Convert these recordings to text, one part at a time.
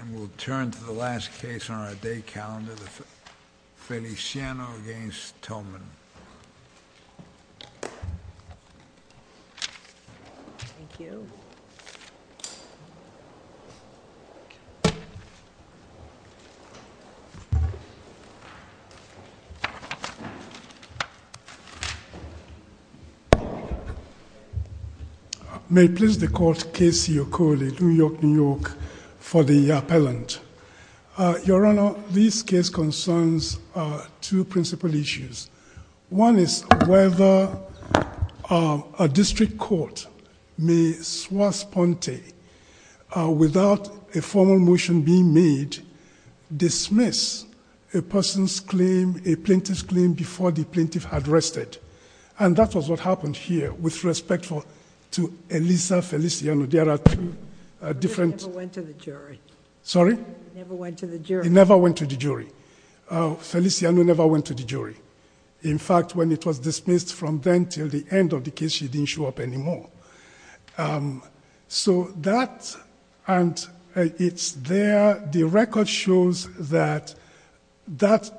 And we'll turn to the last case on our day calendar, Feliciano v. Tillman. Thank you. Thank you. May it please the court, Casey Okole, New York, New York, for the appellant. Your Honor, this case concerns two principal issues. One is whether a district court may swassponte, without a formal motion being made, dismiss a person's claim, a plaintiff's claim, before the plaintiff had rested. And that was what happened here with respect to Elisa Feliciano. There are two different... She never went to the jury. Sorry? Never went to the jury. She never went to the jury. Feliciano never went to the jury. In fact, when it was dismissed from then till the end of the case, she didn't show up anymore. So that and it's there. The record shows that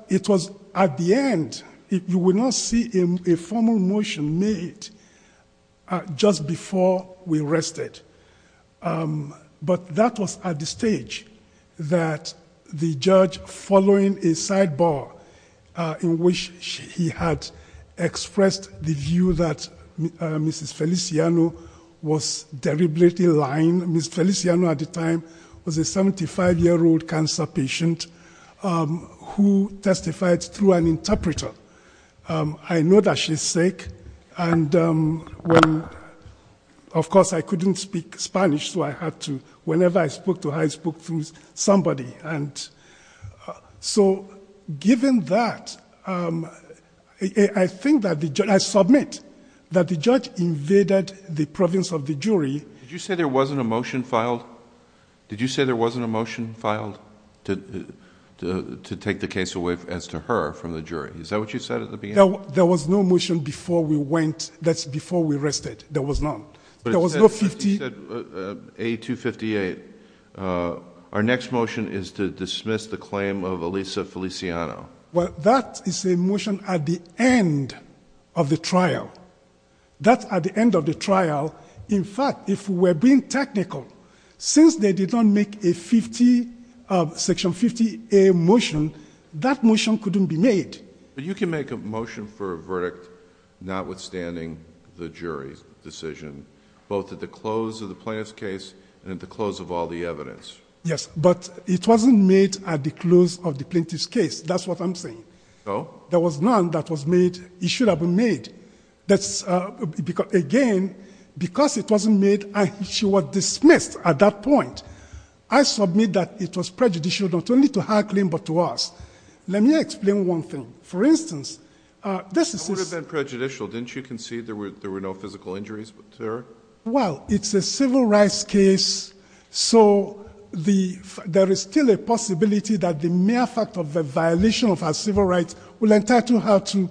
it was at the end. You will not see a formal motion made just before we rested. But that was at the stage that the judge, following a sidebar in which he had expressed the view that Mrs. Feliciano was deliberately lying. Mrs. Feliciano at the time was a 75-year-old cancer patient who testified through an interpreter. I know that she's sick and when... Of course, I couldn't speak Spanish, so I had to... Whenever I spoke to her, I spoke through somebody. So given that, I think that the judge... I submit that the judge invaded the province of the jury. Did you say there wasn't a motion filed? Did you say there wasn't a motion filed to take the case away as to her from the jury? Is that what you said at the beginning? There was no motion before we went, that's before we rested. There was none. There was no 50... You said A258. Our next motion is to dismiss the claim of Elisa Feliciano. Well, that is a motion at the end of the trial. That's at the end of the trial. In fact, if we were being technical, since they did not make a 50... Section 50A motion, that motion couldn't be made. But you can make a motion for a verdict notwithstanding the jury's decision, both at the close of the plaintiff's case and at the close of all the evidence. Yes, but it wasn't made at the close of the plaintiff's case. That's what I'm saying. So? There was none that was made. It should have been made. Again, because it wasn't made, she was dismissed at that point. I submit that it was prejudicial not only to her claim but to us. Let me explain one thing. For instance, this is... It would have been prejudicial, didn't you concede there were no physical injuries to her? Well, it's a civil rights case, so there is still a possibility that the mere fact of a violation of her civil rights will entitle her to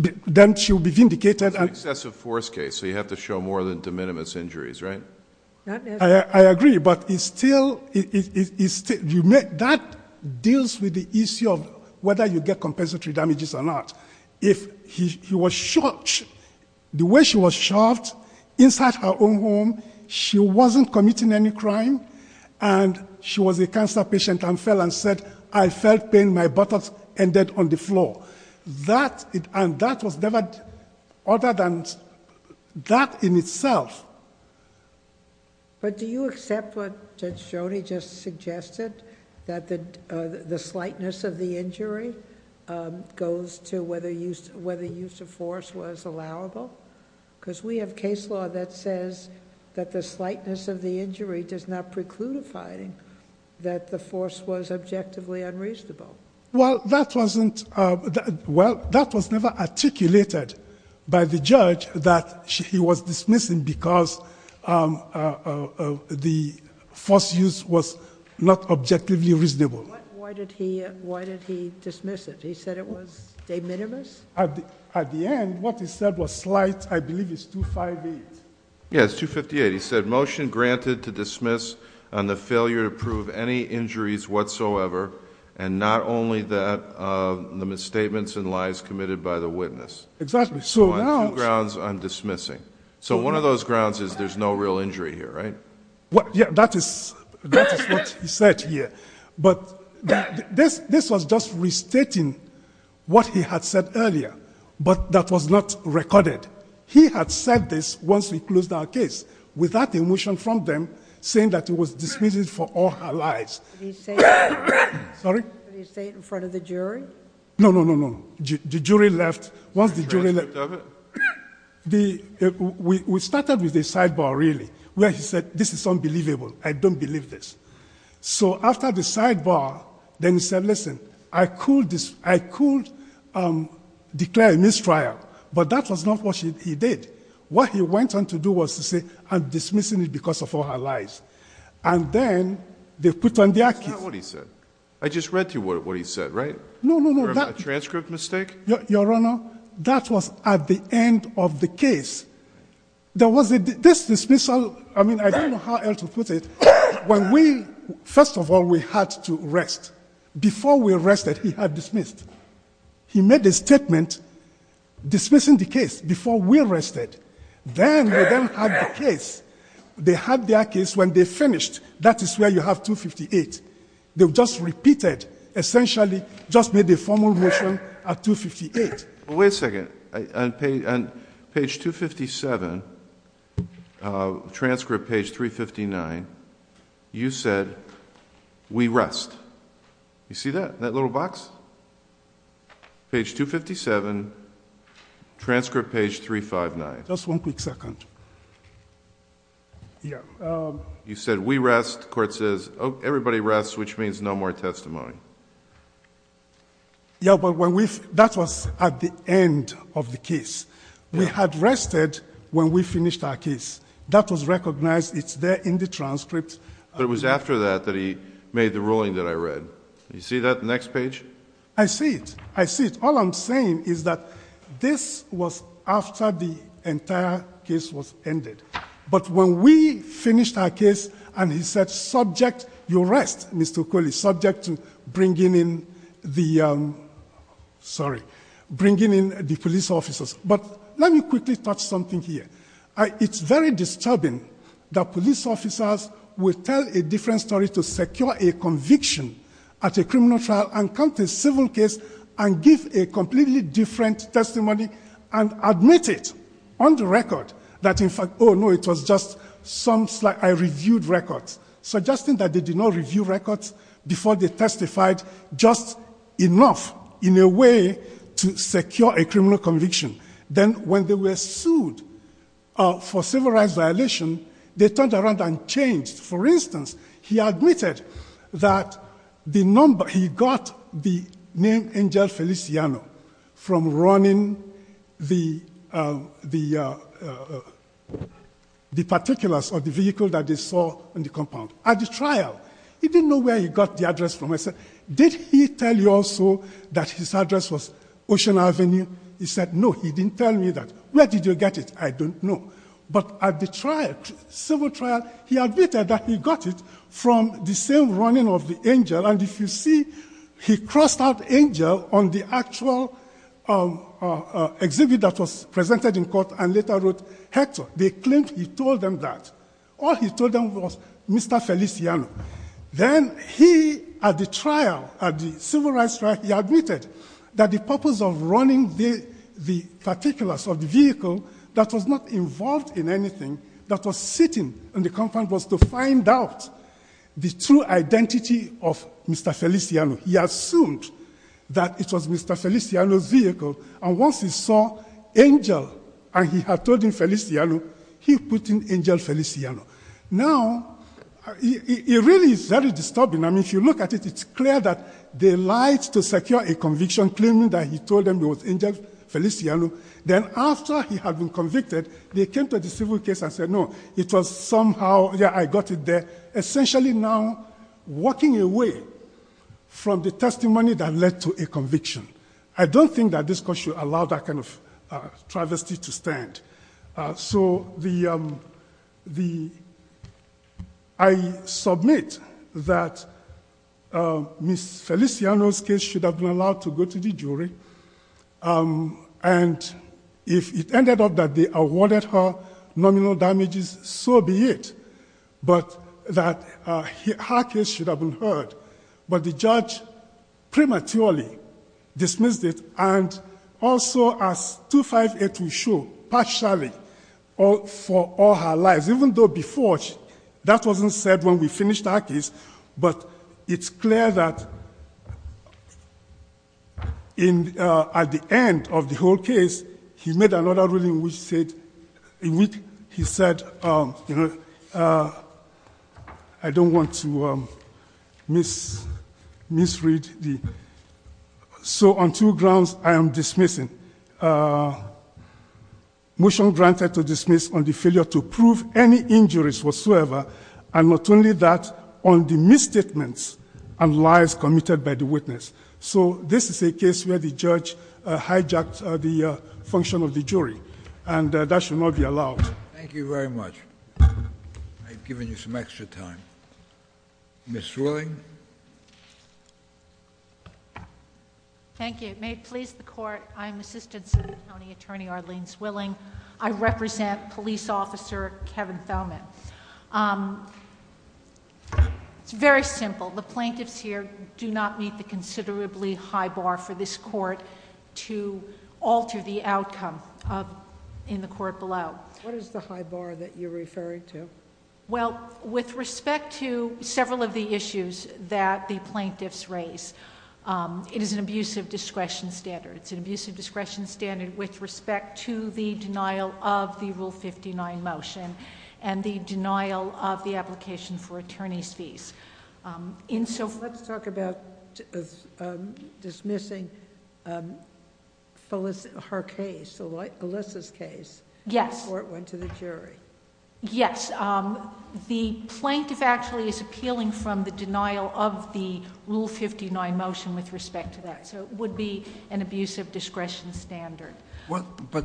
be vindicated. It's an excessive force case, so you have to show more than de minimis injuries, right? I agree, but it's still... That deals with the issue of whether you get compensatory damages or not. If he was shot, the way she was shot, inside her own home, she wasn't committing any crime, and she was a cancer patient and fell and said, I felt pain, my buttocks ended on the floor. And that was never... Other than that in itself. But do you accept what Judge Joni just suggested, that the slightness of the injury goes to whether use of force was allowable? Because we have case law that says that the slightness of the injury does not preclude a finding that the force was objectively unreasonable. Well, that wasn't... Well, that was never articulated by the judge that he was dismissing because the force use was not objectively reasonable. Why did he dismiss it? He said it was de minimis? At the end, what he said was slight, I believe it's 258. Yeah, it's 258. He said, motion granted to dismiss on the failure to prove any injuries whatsoever and not only the misstatements and lies committed by the witness. Exactly. So on two grounds, I'm dismissing. So one of those grounds is there's no real injury here, right? Yeah, that is what he said here. But this was just restating what he had said earlier, but that was not recorded. He had said this once we closed our case without a motion from them saying that it was dismissed for all her lies. Did he say it in front of the jury? No, no, no, no. The jury left. Once the jury left, we started with a sidebar, really, where he said this is unbelievable, I don't believe this. So after the sidebar, then he said, listen, I could declare a mistrial, but that was not what he did. What he went on to do was to say I'm dismissing it because of all her lies. And then they put on the archives. That's not what he said. I just read to you what he said, right? No, no, no. A transcript mistake? Your Honor, that was at the end of the case. This dismissal, I mean, I don't know how else to put it. First of all, we had to rest. Before we rested, he had dismissed. He made a statement dismissing the case before we rested. Then they had the case. They had their case when they finished. That is where you have 258. They just repeated, essentially just made a formal motion at 258. Wait a second. On page 257, transcript page 359, you said we rest. You see that, that little box? Page 257, transcript page 359. Just one quick second. You said we rest. The court says, oh, everybody rests, which means no more testimony. Yeah, but that was at the end of the case. We had rested when we finished our case. That was recognized. It's there in the transcript. But it was after that that he made the ruling that I read. You see that, the next page? I see it. I see it. All I'm saying is that this was after the entire case was ended. But when we finished our case and he said subject, you rest, Mr. Okweli, subject to bringing in the police officers. But let me quickly touch something here. It's very disturbing that police officers would tell a different story to secure a conviction at a criminal trial and come to a civil case and give a completely different testimony and admit it on the record that in fact, oh, no, it was just some slight, I reviewed records, suggesting that they did not review records before they testified just enough in a way to secure a criminal conviction. Then when they were sued for civil rights violation, they turned around and changed. For instance, he admitted that he got the name Angel Feliciano from running the particulars of the vehicle that they saw in the compound. At the trial, he didn't know where he got the address from. I said, did he tell you also that his address was Ocean Avenue? He said, no, he didn't tell me that. Where did you get it? I don't know. But at the trial, civil trial, he admitted that he got it from the same running of the Angel. And if you see, he crossed out Angel on the actual exhibit that was presented in court and later wrote Hector. They claimed he told them that. All he told them was Mr. Feliciano. Then he, at the trial, at the civil rights trial, he admitted that the purpose of running the particulars of the vehicle that was not involved in anything that was sitting in the compound was to find out the true identity of Mr. Feliciano. He assumed that it was Mr. Feliciano's vehicle. And once he saw Angel and he had told him Feliciano, he put in Angel Feliciano. Now, it really is very disturbing. I mean, if you look at it, it's clear that they lied to secure a conviction claiming that he told them it was Angel Feliciano. Then after he had been convicted, they came to the civil case and said, no, it was somehow, yeah, I got it there. Essentially now walking away from the testimony that led to a conviction. I don't think that this court should allow that kind of travesty to stand. So I submit that Ms. Feliciano's case should have been allowed to go to the jury. And if it ended up that they awarded her nominal damages, so be it. But that her case should have been heard. But the judge prematurely dismissed it. And also as 258 will show, partially for all her lies, even though before that wasn't said when we finished her case. But it's clear that at the end of the whole case, he made another ruling in which he said, I don't want to misread. So on two grounds I am dismissing. Motion granted to dismiss on the failure to prove any injuries whatsoever. And not only that, on the misstatements and lies committed by the witness. So this is a case where the judge hijacked the function of the jury. And that should not be allowed. Thank you very much. I've given you some extra time. Ms. Willing. Thank you. May it please the court. I'm Assistant City County Attorney Arlene Zwilling. I represent Police Officer Kevin Thelman. It's very simple. The plaintiffs here do not meet the considerably high bar for this court to alter the outcome in the court below. What is the high bar that you're referring to? Well, with respect to several of the issues that the plaintiffs raise, it is an abuse of discretion standard. It's an abuse of discretion standard with respect to the denial of the Rule 59 motion and the denial of the application for attorney's fees. Let's talk about dismissing her case, Alyssa's case. Yes. The court went to the jury. Yes. The plaintiff actually is appealing from the denial of the Rule 59 motion with respect to that. So it would be an abuse of discretion standard. But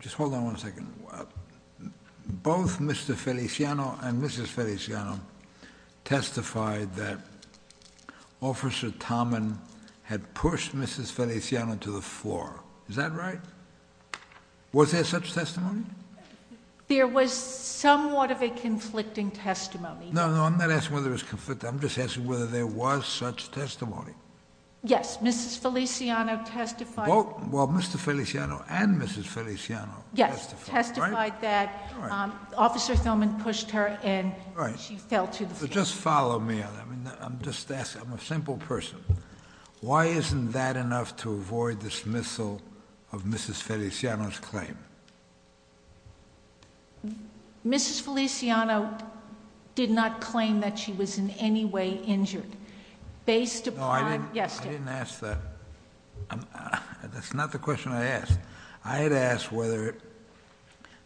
just hold on one second. Both Mr. Feliciano and Mrs. Feliciano testified that Officer Thelman had pushed Mrs. Feliciano to the floor. Is that right? Was there such testimony? There was somewhat of a conflicting testimony. No, no. I'm not asking whether it was conflicting. I'm just asking whether there was such testimony. Yes. Mrs. Feliciano testified. Well, Mr. Feliciano and Mrs. Feliciano testified. Yes. Testified that Officer Thelman pushed her and she fell to the floor. Just follow me on that. I'm just asking. I'm a simple person. Why isn't that enough to avoid dismissal of Mrs. Feliciano's claim? Mrs. Feliciano did not claim that she was in any way injured. Based upon the testimony. No, I didn't ask that. That's not the question I asked. I had asked whether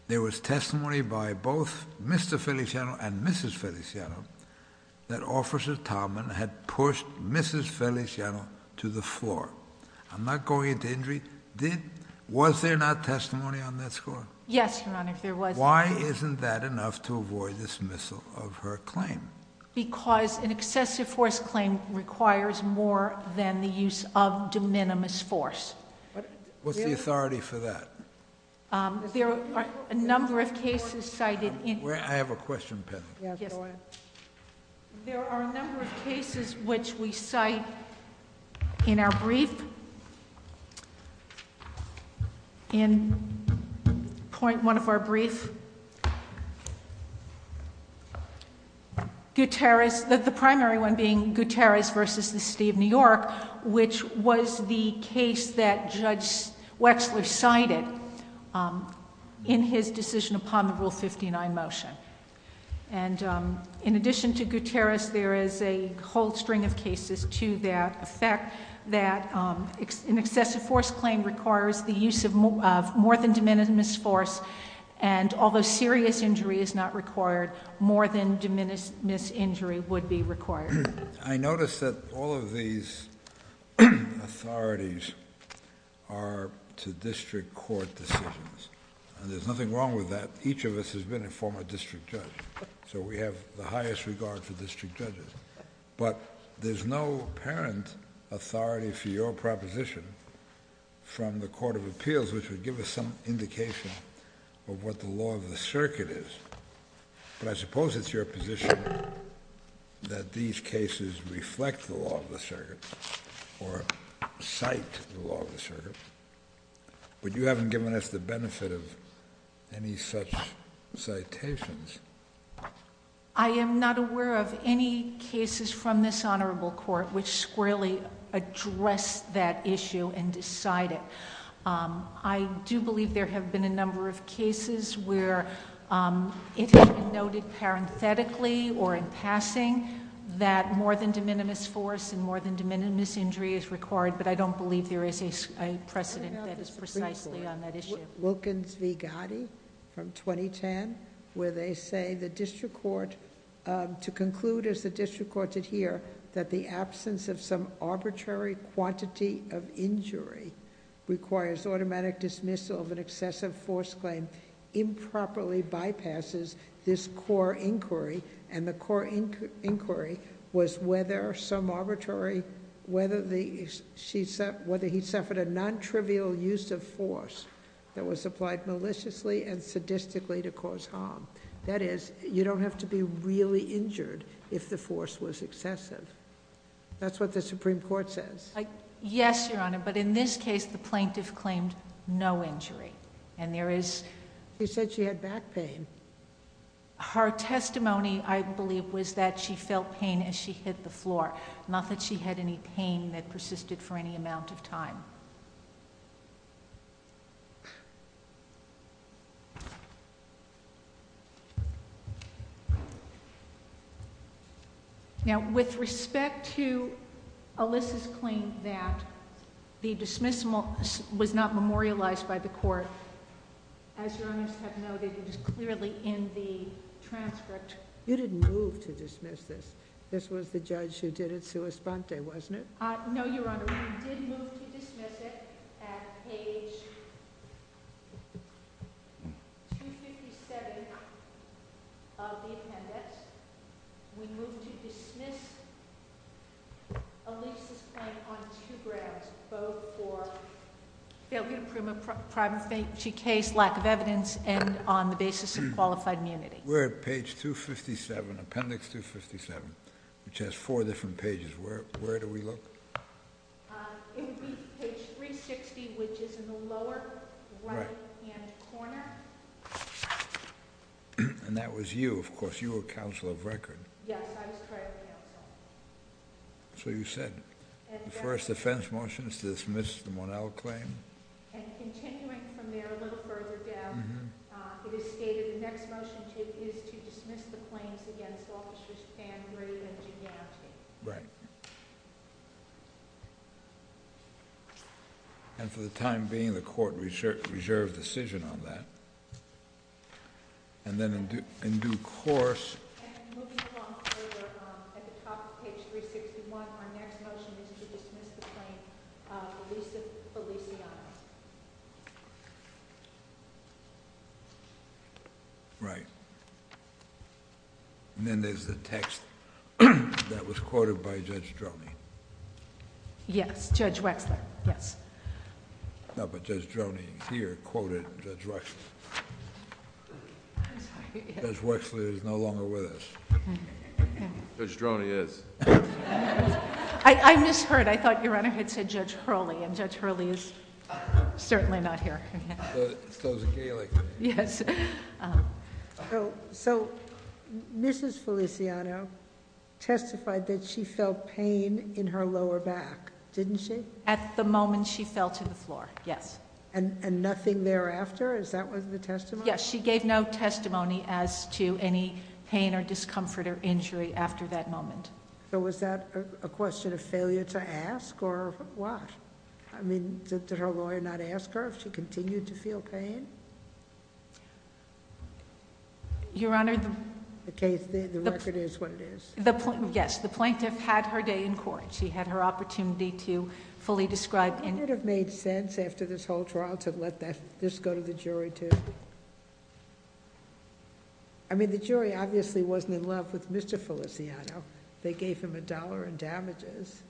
there was testimony by both Mr. Feliciano and Mrs. Feliciano that Officer Thelman had pushed Mrs. Feliciano to the floor. I'm not going into injury. Was there not testimony on that score? Yes, Your Honor, there was. Why isn't that enough to avoid dismissal of her claim? Because an excessive force claim requires more than the use of de minimis force. What's the authority for that? There are a number of cases cited in... I have a question pending. Yes, go ahead. There are a number of cases which we cite in our brief. In point one of our brief, Gutierrez, the primary one being Gutierrez versus the city of New York, which was the case that Judge Wexler cited in his decision upon the Rule 59 motion. In addition to Gutierrez, there is a whole string of cases to that effect, that an excessive force claim requires the use of more than de minimis force, and although serious injury is not required, more than de minimis injury would be required. I notice that all of these authorities are to district court decisions. There's nothing wrong with that. Each of us has been a former district judge, so we have the highest regard for district judges, but there's no apparent authority for your proposition from the Court of Appeals, which would give us some indication of what the law of the circuit is. I suppose it's your position that these cases reflect the law of the circuit or cite the law of the circuit, but you haven't given us the benefit of any such citations. I am not aware of any cases from this honorable court which squarely address that issue and decide it. I do believe there have been a number of cases where it has been noted parenthetically or in passing that more than de minimis force and more than de minimis injury is required, but I don't believe there is a precedent that is precisely on that issue. Wilkins v. Gotti from 2010, where they say the district court, to conclude as the district court did here, that the absence of some arbitrary quantity of injury requires automatic dismissal of an excessive force claim improperly bypasses this core inquiry, and the core inquiry was whether he suffered a non-trivial use of force that was applied maliciously and sadistically to cause harm. That is, you don't have to be really injured if the force was excessive. That's what the Supreme Court says. Yes, Your Honor, but in this case, the plaintiff claimed no injury, and there is... She said she had back pain. Her testimony, I believe, was that she felt pain as she hit the floor, not that she had any pain that persisted for any amount of time. Now, with respect to Alyssa's claim that the dismissal was not memorialized by the court, as Your Honors have noted, it was clearly in the transcript. You didn't move to dismiss this. This was the judge who did it sua sponte, wasn't it? No, Your Honor, we did move to dismiss it at page 257 of the appendix. We moved to dismiss Alyssa's claim on two grounds, both for failure to prove a private case, lack of evidence, and on the basis of qualified immunity. We're at page 257, appendix 257, which has four different pages. Where do we look? It would be page 360, which is in the lower right-hand corner. And that was you. Of course, you were counsel of record. Yes, I was trial counsel. So you said the first offense motion is to dismiss the Mornell claim. And continuing from there a little further down, it is stated the next motion is to dismiss the claims against officers Fann Gray and Giganti. Right. And for the time being, the court reserved decision on that. And then in due course... And moving along further, at the top of page 361, our next motion is to dismiss the claim of Alyssa Feliciano. Right. And then there's the text that was quoted by Judge Droney. Yes, Judge Wexler, yes. No, but Judge Droney here quoted Judge Wexler. I'm sorry. Judge Wexler is no longer with us. Judge Droney is. I misheard. I thought your Honor had said Judge Hurley. And Judge Hurley is certainly not here. So is Aguilar. Yes. So, Mrs. Feliciano testified that she felt pain in her lower back, didn't she? At the moment she fell to the floor. Yes. And nothing thereafter? Is that was the testimony? Yes. She gave no testimony as to any pain or discomfort or injury after that moment. So was that a question of failure to ask or what? I mean, did her lawyer not ask her if she continued to feel pain? Your Honor... The case, the record is what it is. Yes. The plaintiff had her day in court. She had her opportunity to fully describe... Wouldn't it have made sense after this whole trial to let this go to the jury too? I mean, the jury obviously wasn't in love with Mr. Feliciano. They gave him a dollar in damages.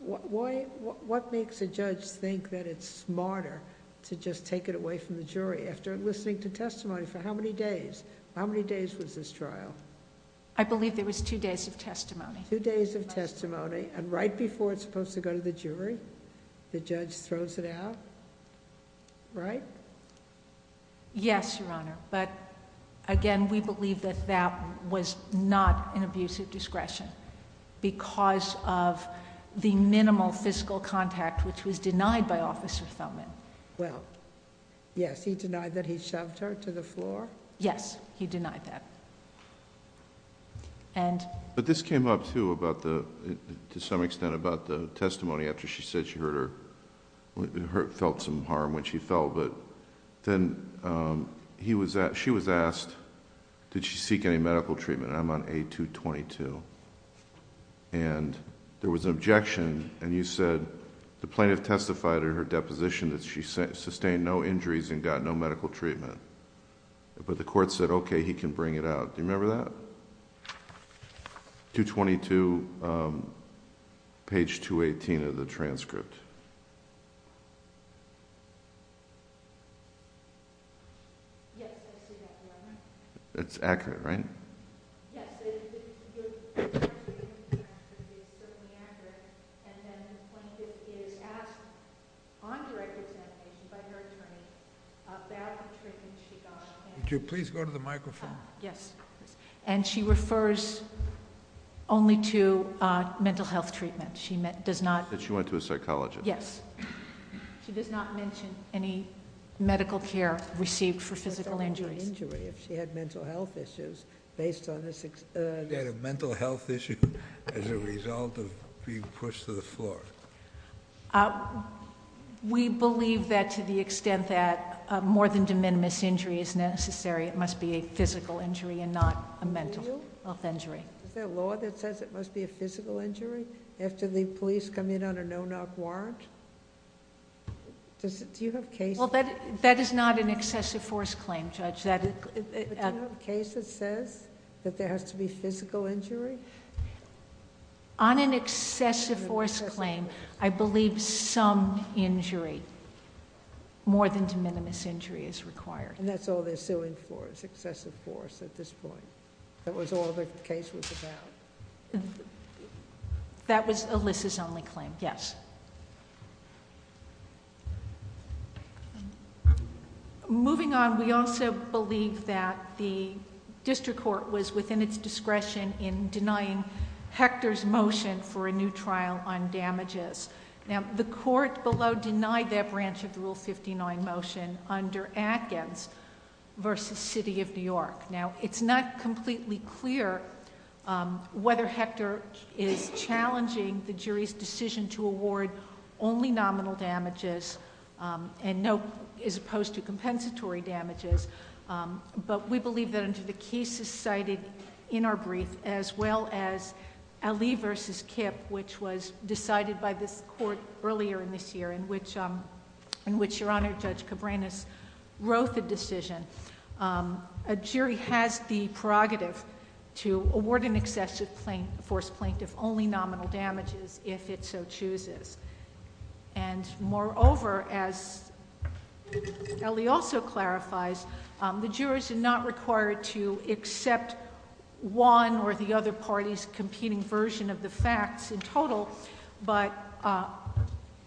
What makes a judge think that it's smarter to just take it away from the jury after listening to testimony for how many days? How many days was this trial? I believe there was two days of testimony. Two days of testimony and right before it's supposed to go to the jury, the judge throws it out, right? Yes, Your Honor, but again, we believe that that was not an abuse of discretion because of the minimal fiscal contact which was denied by Officer Thoman. Well, yes, he denied that he shoved her to the floor? Yes, he denied that. But this came up too to some extent about the testimony after she said she felt some harm, which she felt. Then she was asked, did she seek any medical treatment? I'm on A-222. There was an objection, and you said the plaintiff testified in her deposition that she sustained no injuries and got no medical treatment. But the court said, okay, he can bring it out. Do you remember that? A-222, page 218 of the transcript. Yes, I see that, Your Honor. It's accurate, right? Yes. Yes, your testimony is certainly accurate, and then the plaintiff is asked on direct examination by her attorney about the treatment she got. Would you please go to the microphone? Yes. And she refers only to mental health treatment. She does not... That she went to a psychologist. Yes. She does not mention any medical care received for physical injuries. She had mental health issues based on... She had a mental health issue as a result of being pushed to the floor. We believe that to the extent that more than de minimis injury is necessary, it must be a physical injury and not a mental health injury. Is there a law that says it must be a physical injury after the police come in on a no-knock warrant? Do you have cases... That is not an excessive force claim, Judge. Do you have cases that says that there has to be physical injury? On an excessive force claim, I believe some injury, more than de minimis injury is required. That's all they're suing for is excessive force at this point. That was all the case was about. That was Alyssa's only claim, yes. Moving on, we also believe that the district court was within its discretion in denying Hector's motion for a new trial on damages. Now, the court below denied that branch of the Rule 59 motion under Atkins versus City of New York. Now, it's not completely clear whether Hector is challenging the jury's decision to award only nominal damages and no... as opposed to compensatory damages, but we believe that under the cases cited in our brief, as well as Aly versus Kip, which was decided by this court earlier in this year, in which Your Honor, Judge Cabranes wrote the decision, a jury has the prerogative to award an excessive force plaintiff only nominal damages if it so chooses. And moreover, as Ellie also clarifies, the jurors are not required to accept one or the other party's competing version of the facts in total, but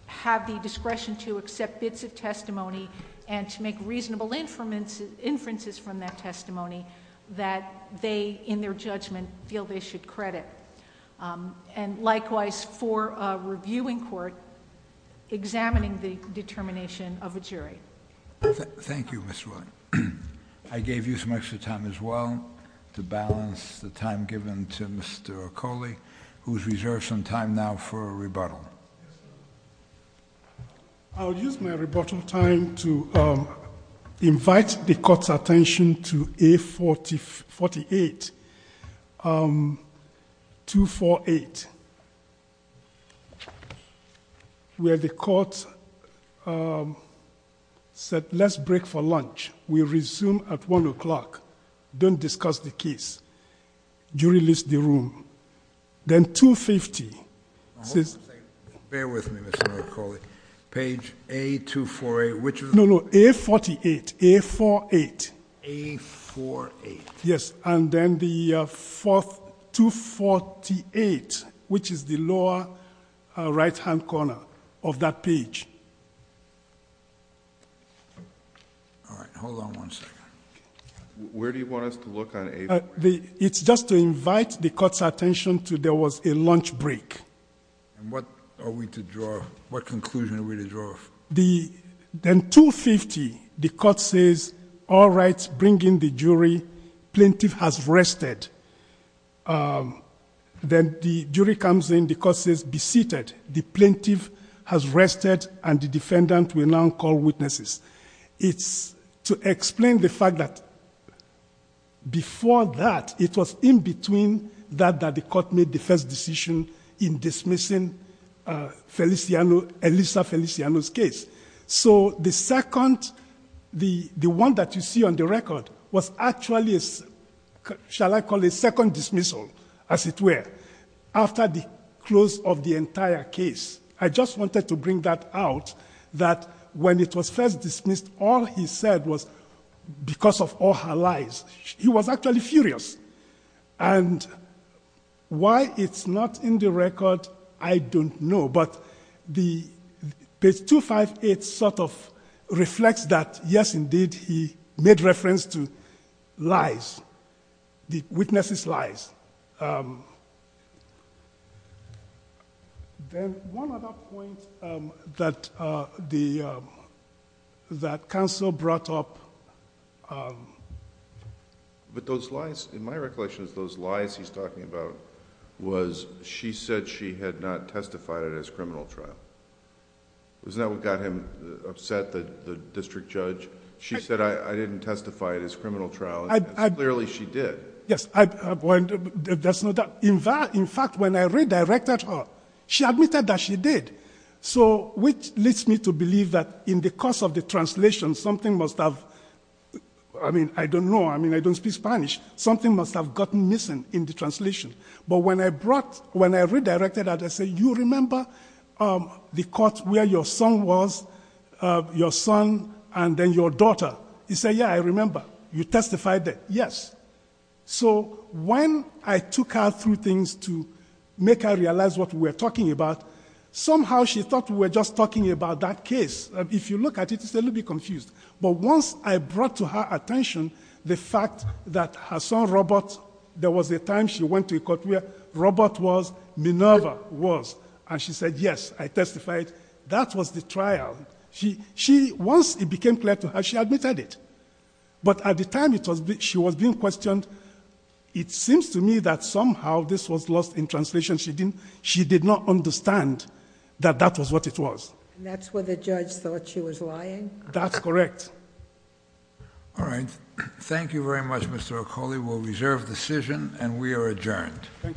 have the discretion to accept bits of testimony and to make reasonable inferences from that testimony that they, in their judgment, feel they should credit. And likewise, for a reviewing court, examining the determination of a jury. Thank you, Ms. Wood. I gave you some extra time, as well, to balance the time given to Mr. Okole, who has reserved some time now for a rebuttal. I'll use my rebuttal time to invite the court's attention to A48, 248, where the court said, let's break for lunch. We'll resume at 1 o'clock. Don't discuss the case. Jury list the room. Then 250. Bear with me, Mr. Okole. Page A248, which of the... No, no, A48. A48. A48. Yes, and then the 248, which is the lower right-hand corner of that page. All right. Hold on one second. Where do you want us to look on A48? It's just to invite the court's attention to there was a lunch break. And what are we to draw? What conclusion are we to draw? Then 250, the court says, all right, bring in the jury. Plaintiff has rested. Then the jury comes in. The court says, be seated. The plaintiff has rested, and the defendant will now call witnesses. It's to explain the fact that before that, it was in between that the court made the first decision in dismissing Elisa Feliciano's case. So the one that you see on the record was actually, shall I call it a second dismissal, as it were, after the close of the entire case. I just wanted to bring that out, that when it was first dismissed, all he said was because of all her lies. He was actually furious. And why it's not in the record, I don't know. But page 258 sort of reflects that, yes, indeed, he made reference to lies, the witness's lies. Then one other point that counsel brought up with those lies he's talking about was she said she had not testified at his criminal trial. Isn't that what got him upset, the district judge? She said, I didn't testify at his criminal trial, and clearly she did. Yes, that's not... In fact, when I redirected her, she admitted that she did, which leads me to believe that in the course of the translation, something must have... I mean, I don't know. I mean, I don't speak Spanish. Something must have gotten missing in the translation. But when I redirected her, I said, you remember the court where your son was, your daughter? She said, yeah, I remember. You testified there? Yes. So when I took her through things to make her realize what we were talking about, somehow she thought we were just talking about that case. If you look at it, it's a little bit confused. But once I brought to her attention the fact that her son Robert, there was a time she went to a court where Robert was, Minerva was, and she said, yes, I testified. That was the trial. Once it became clear to her, she admitted it. But at the time she was being questioned, it seems to me that somehow this was lost in translation. She did not understand that that was what it was. And that's where the judge thought she was lying? That's correct. All right. Thank you very much, Mr. Akoli. We'll reserve the decision, and we are adjourned. Thank you.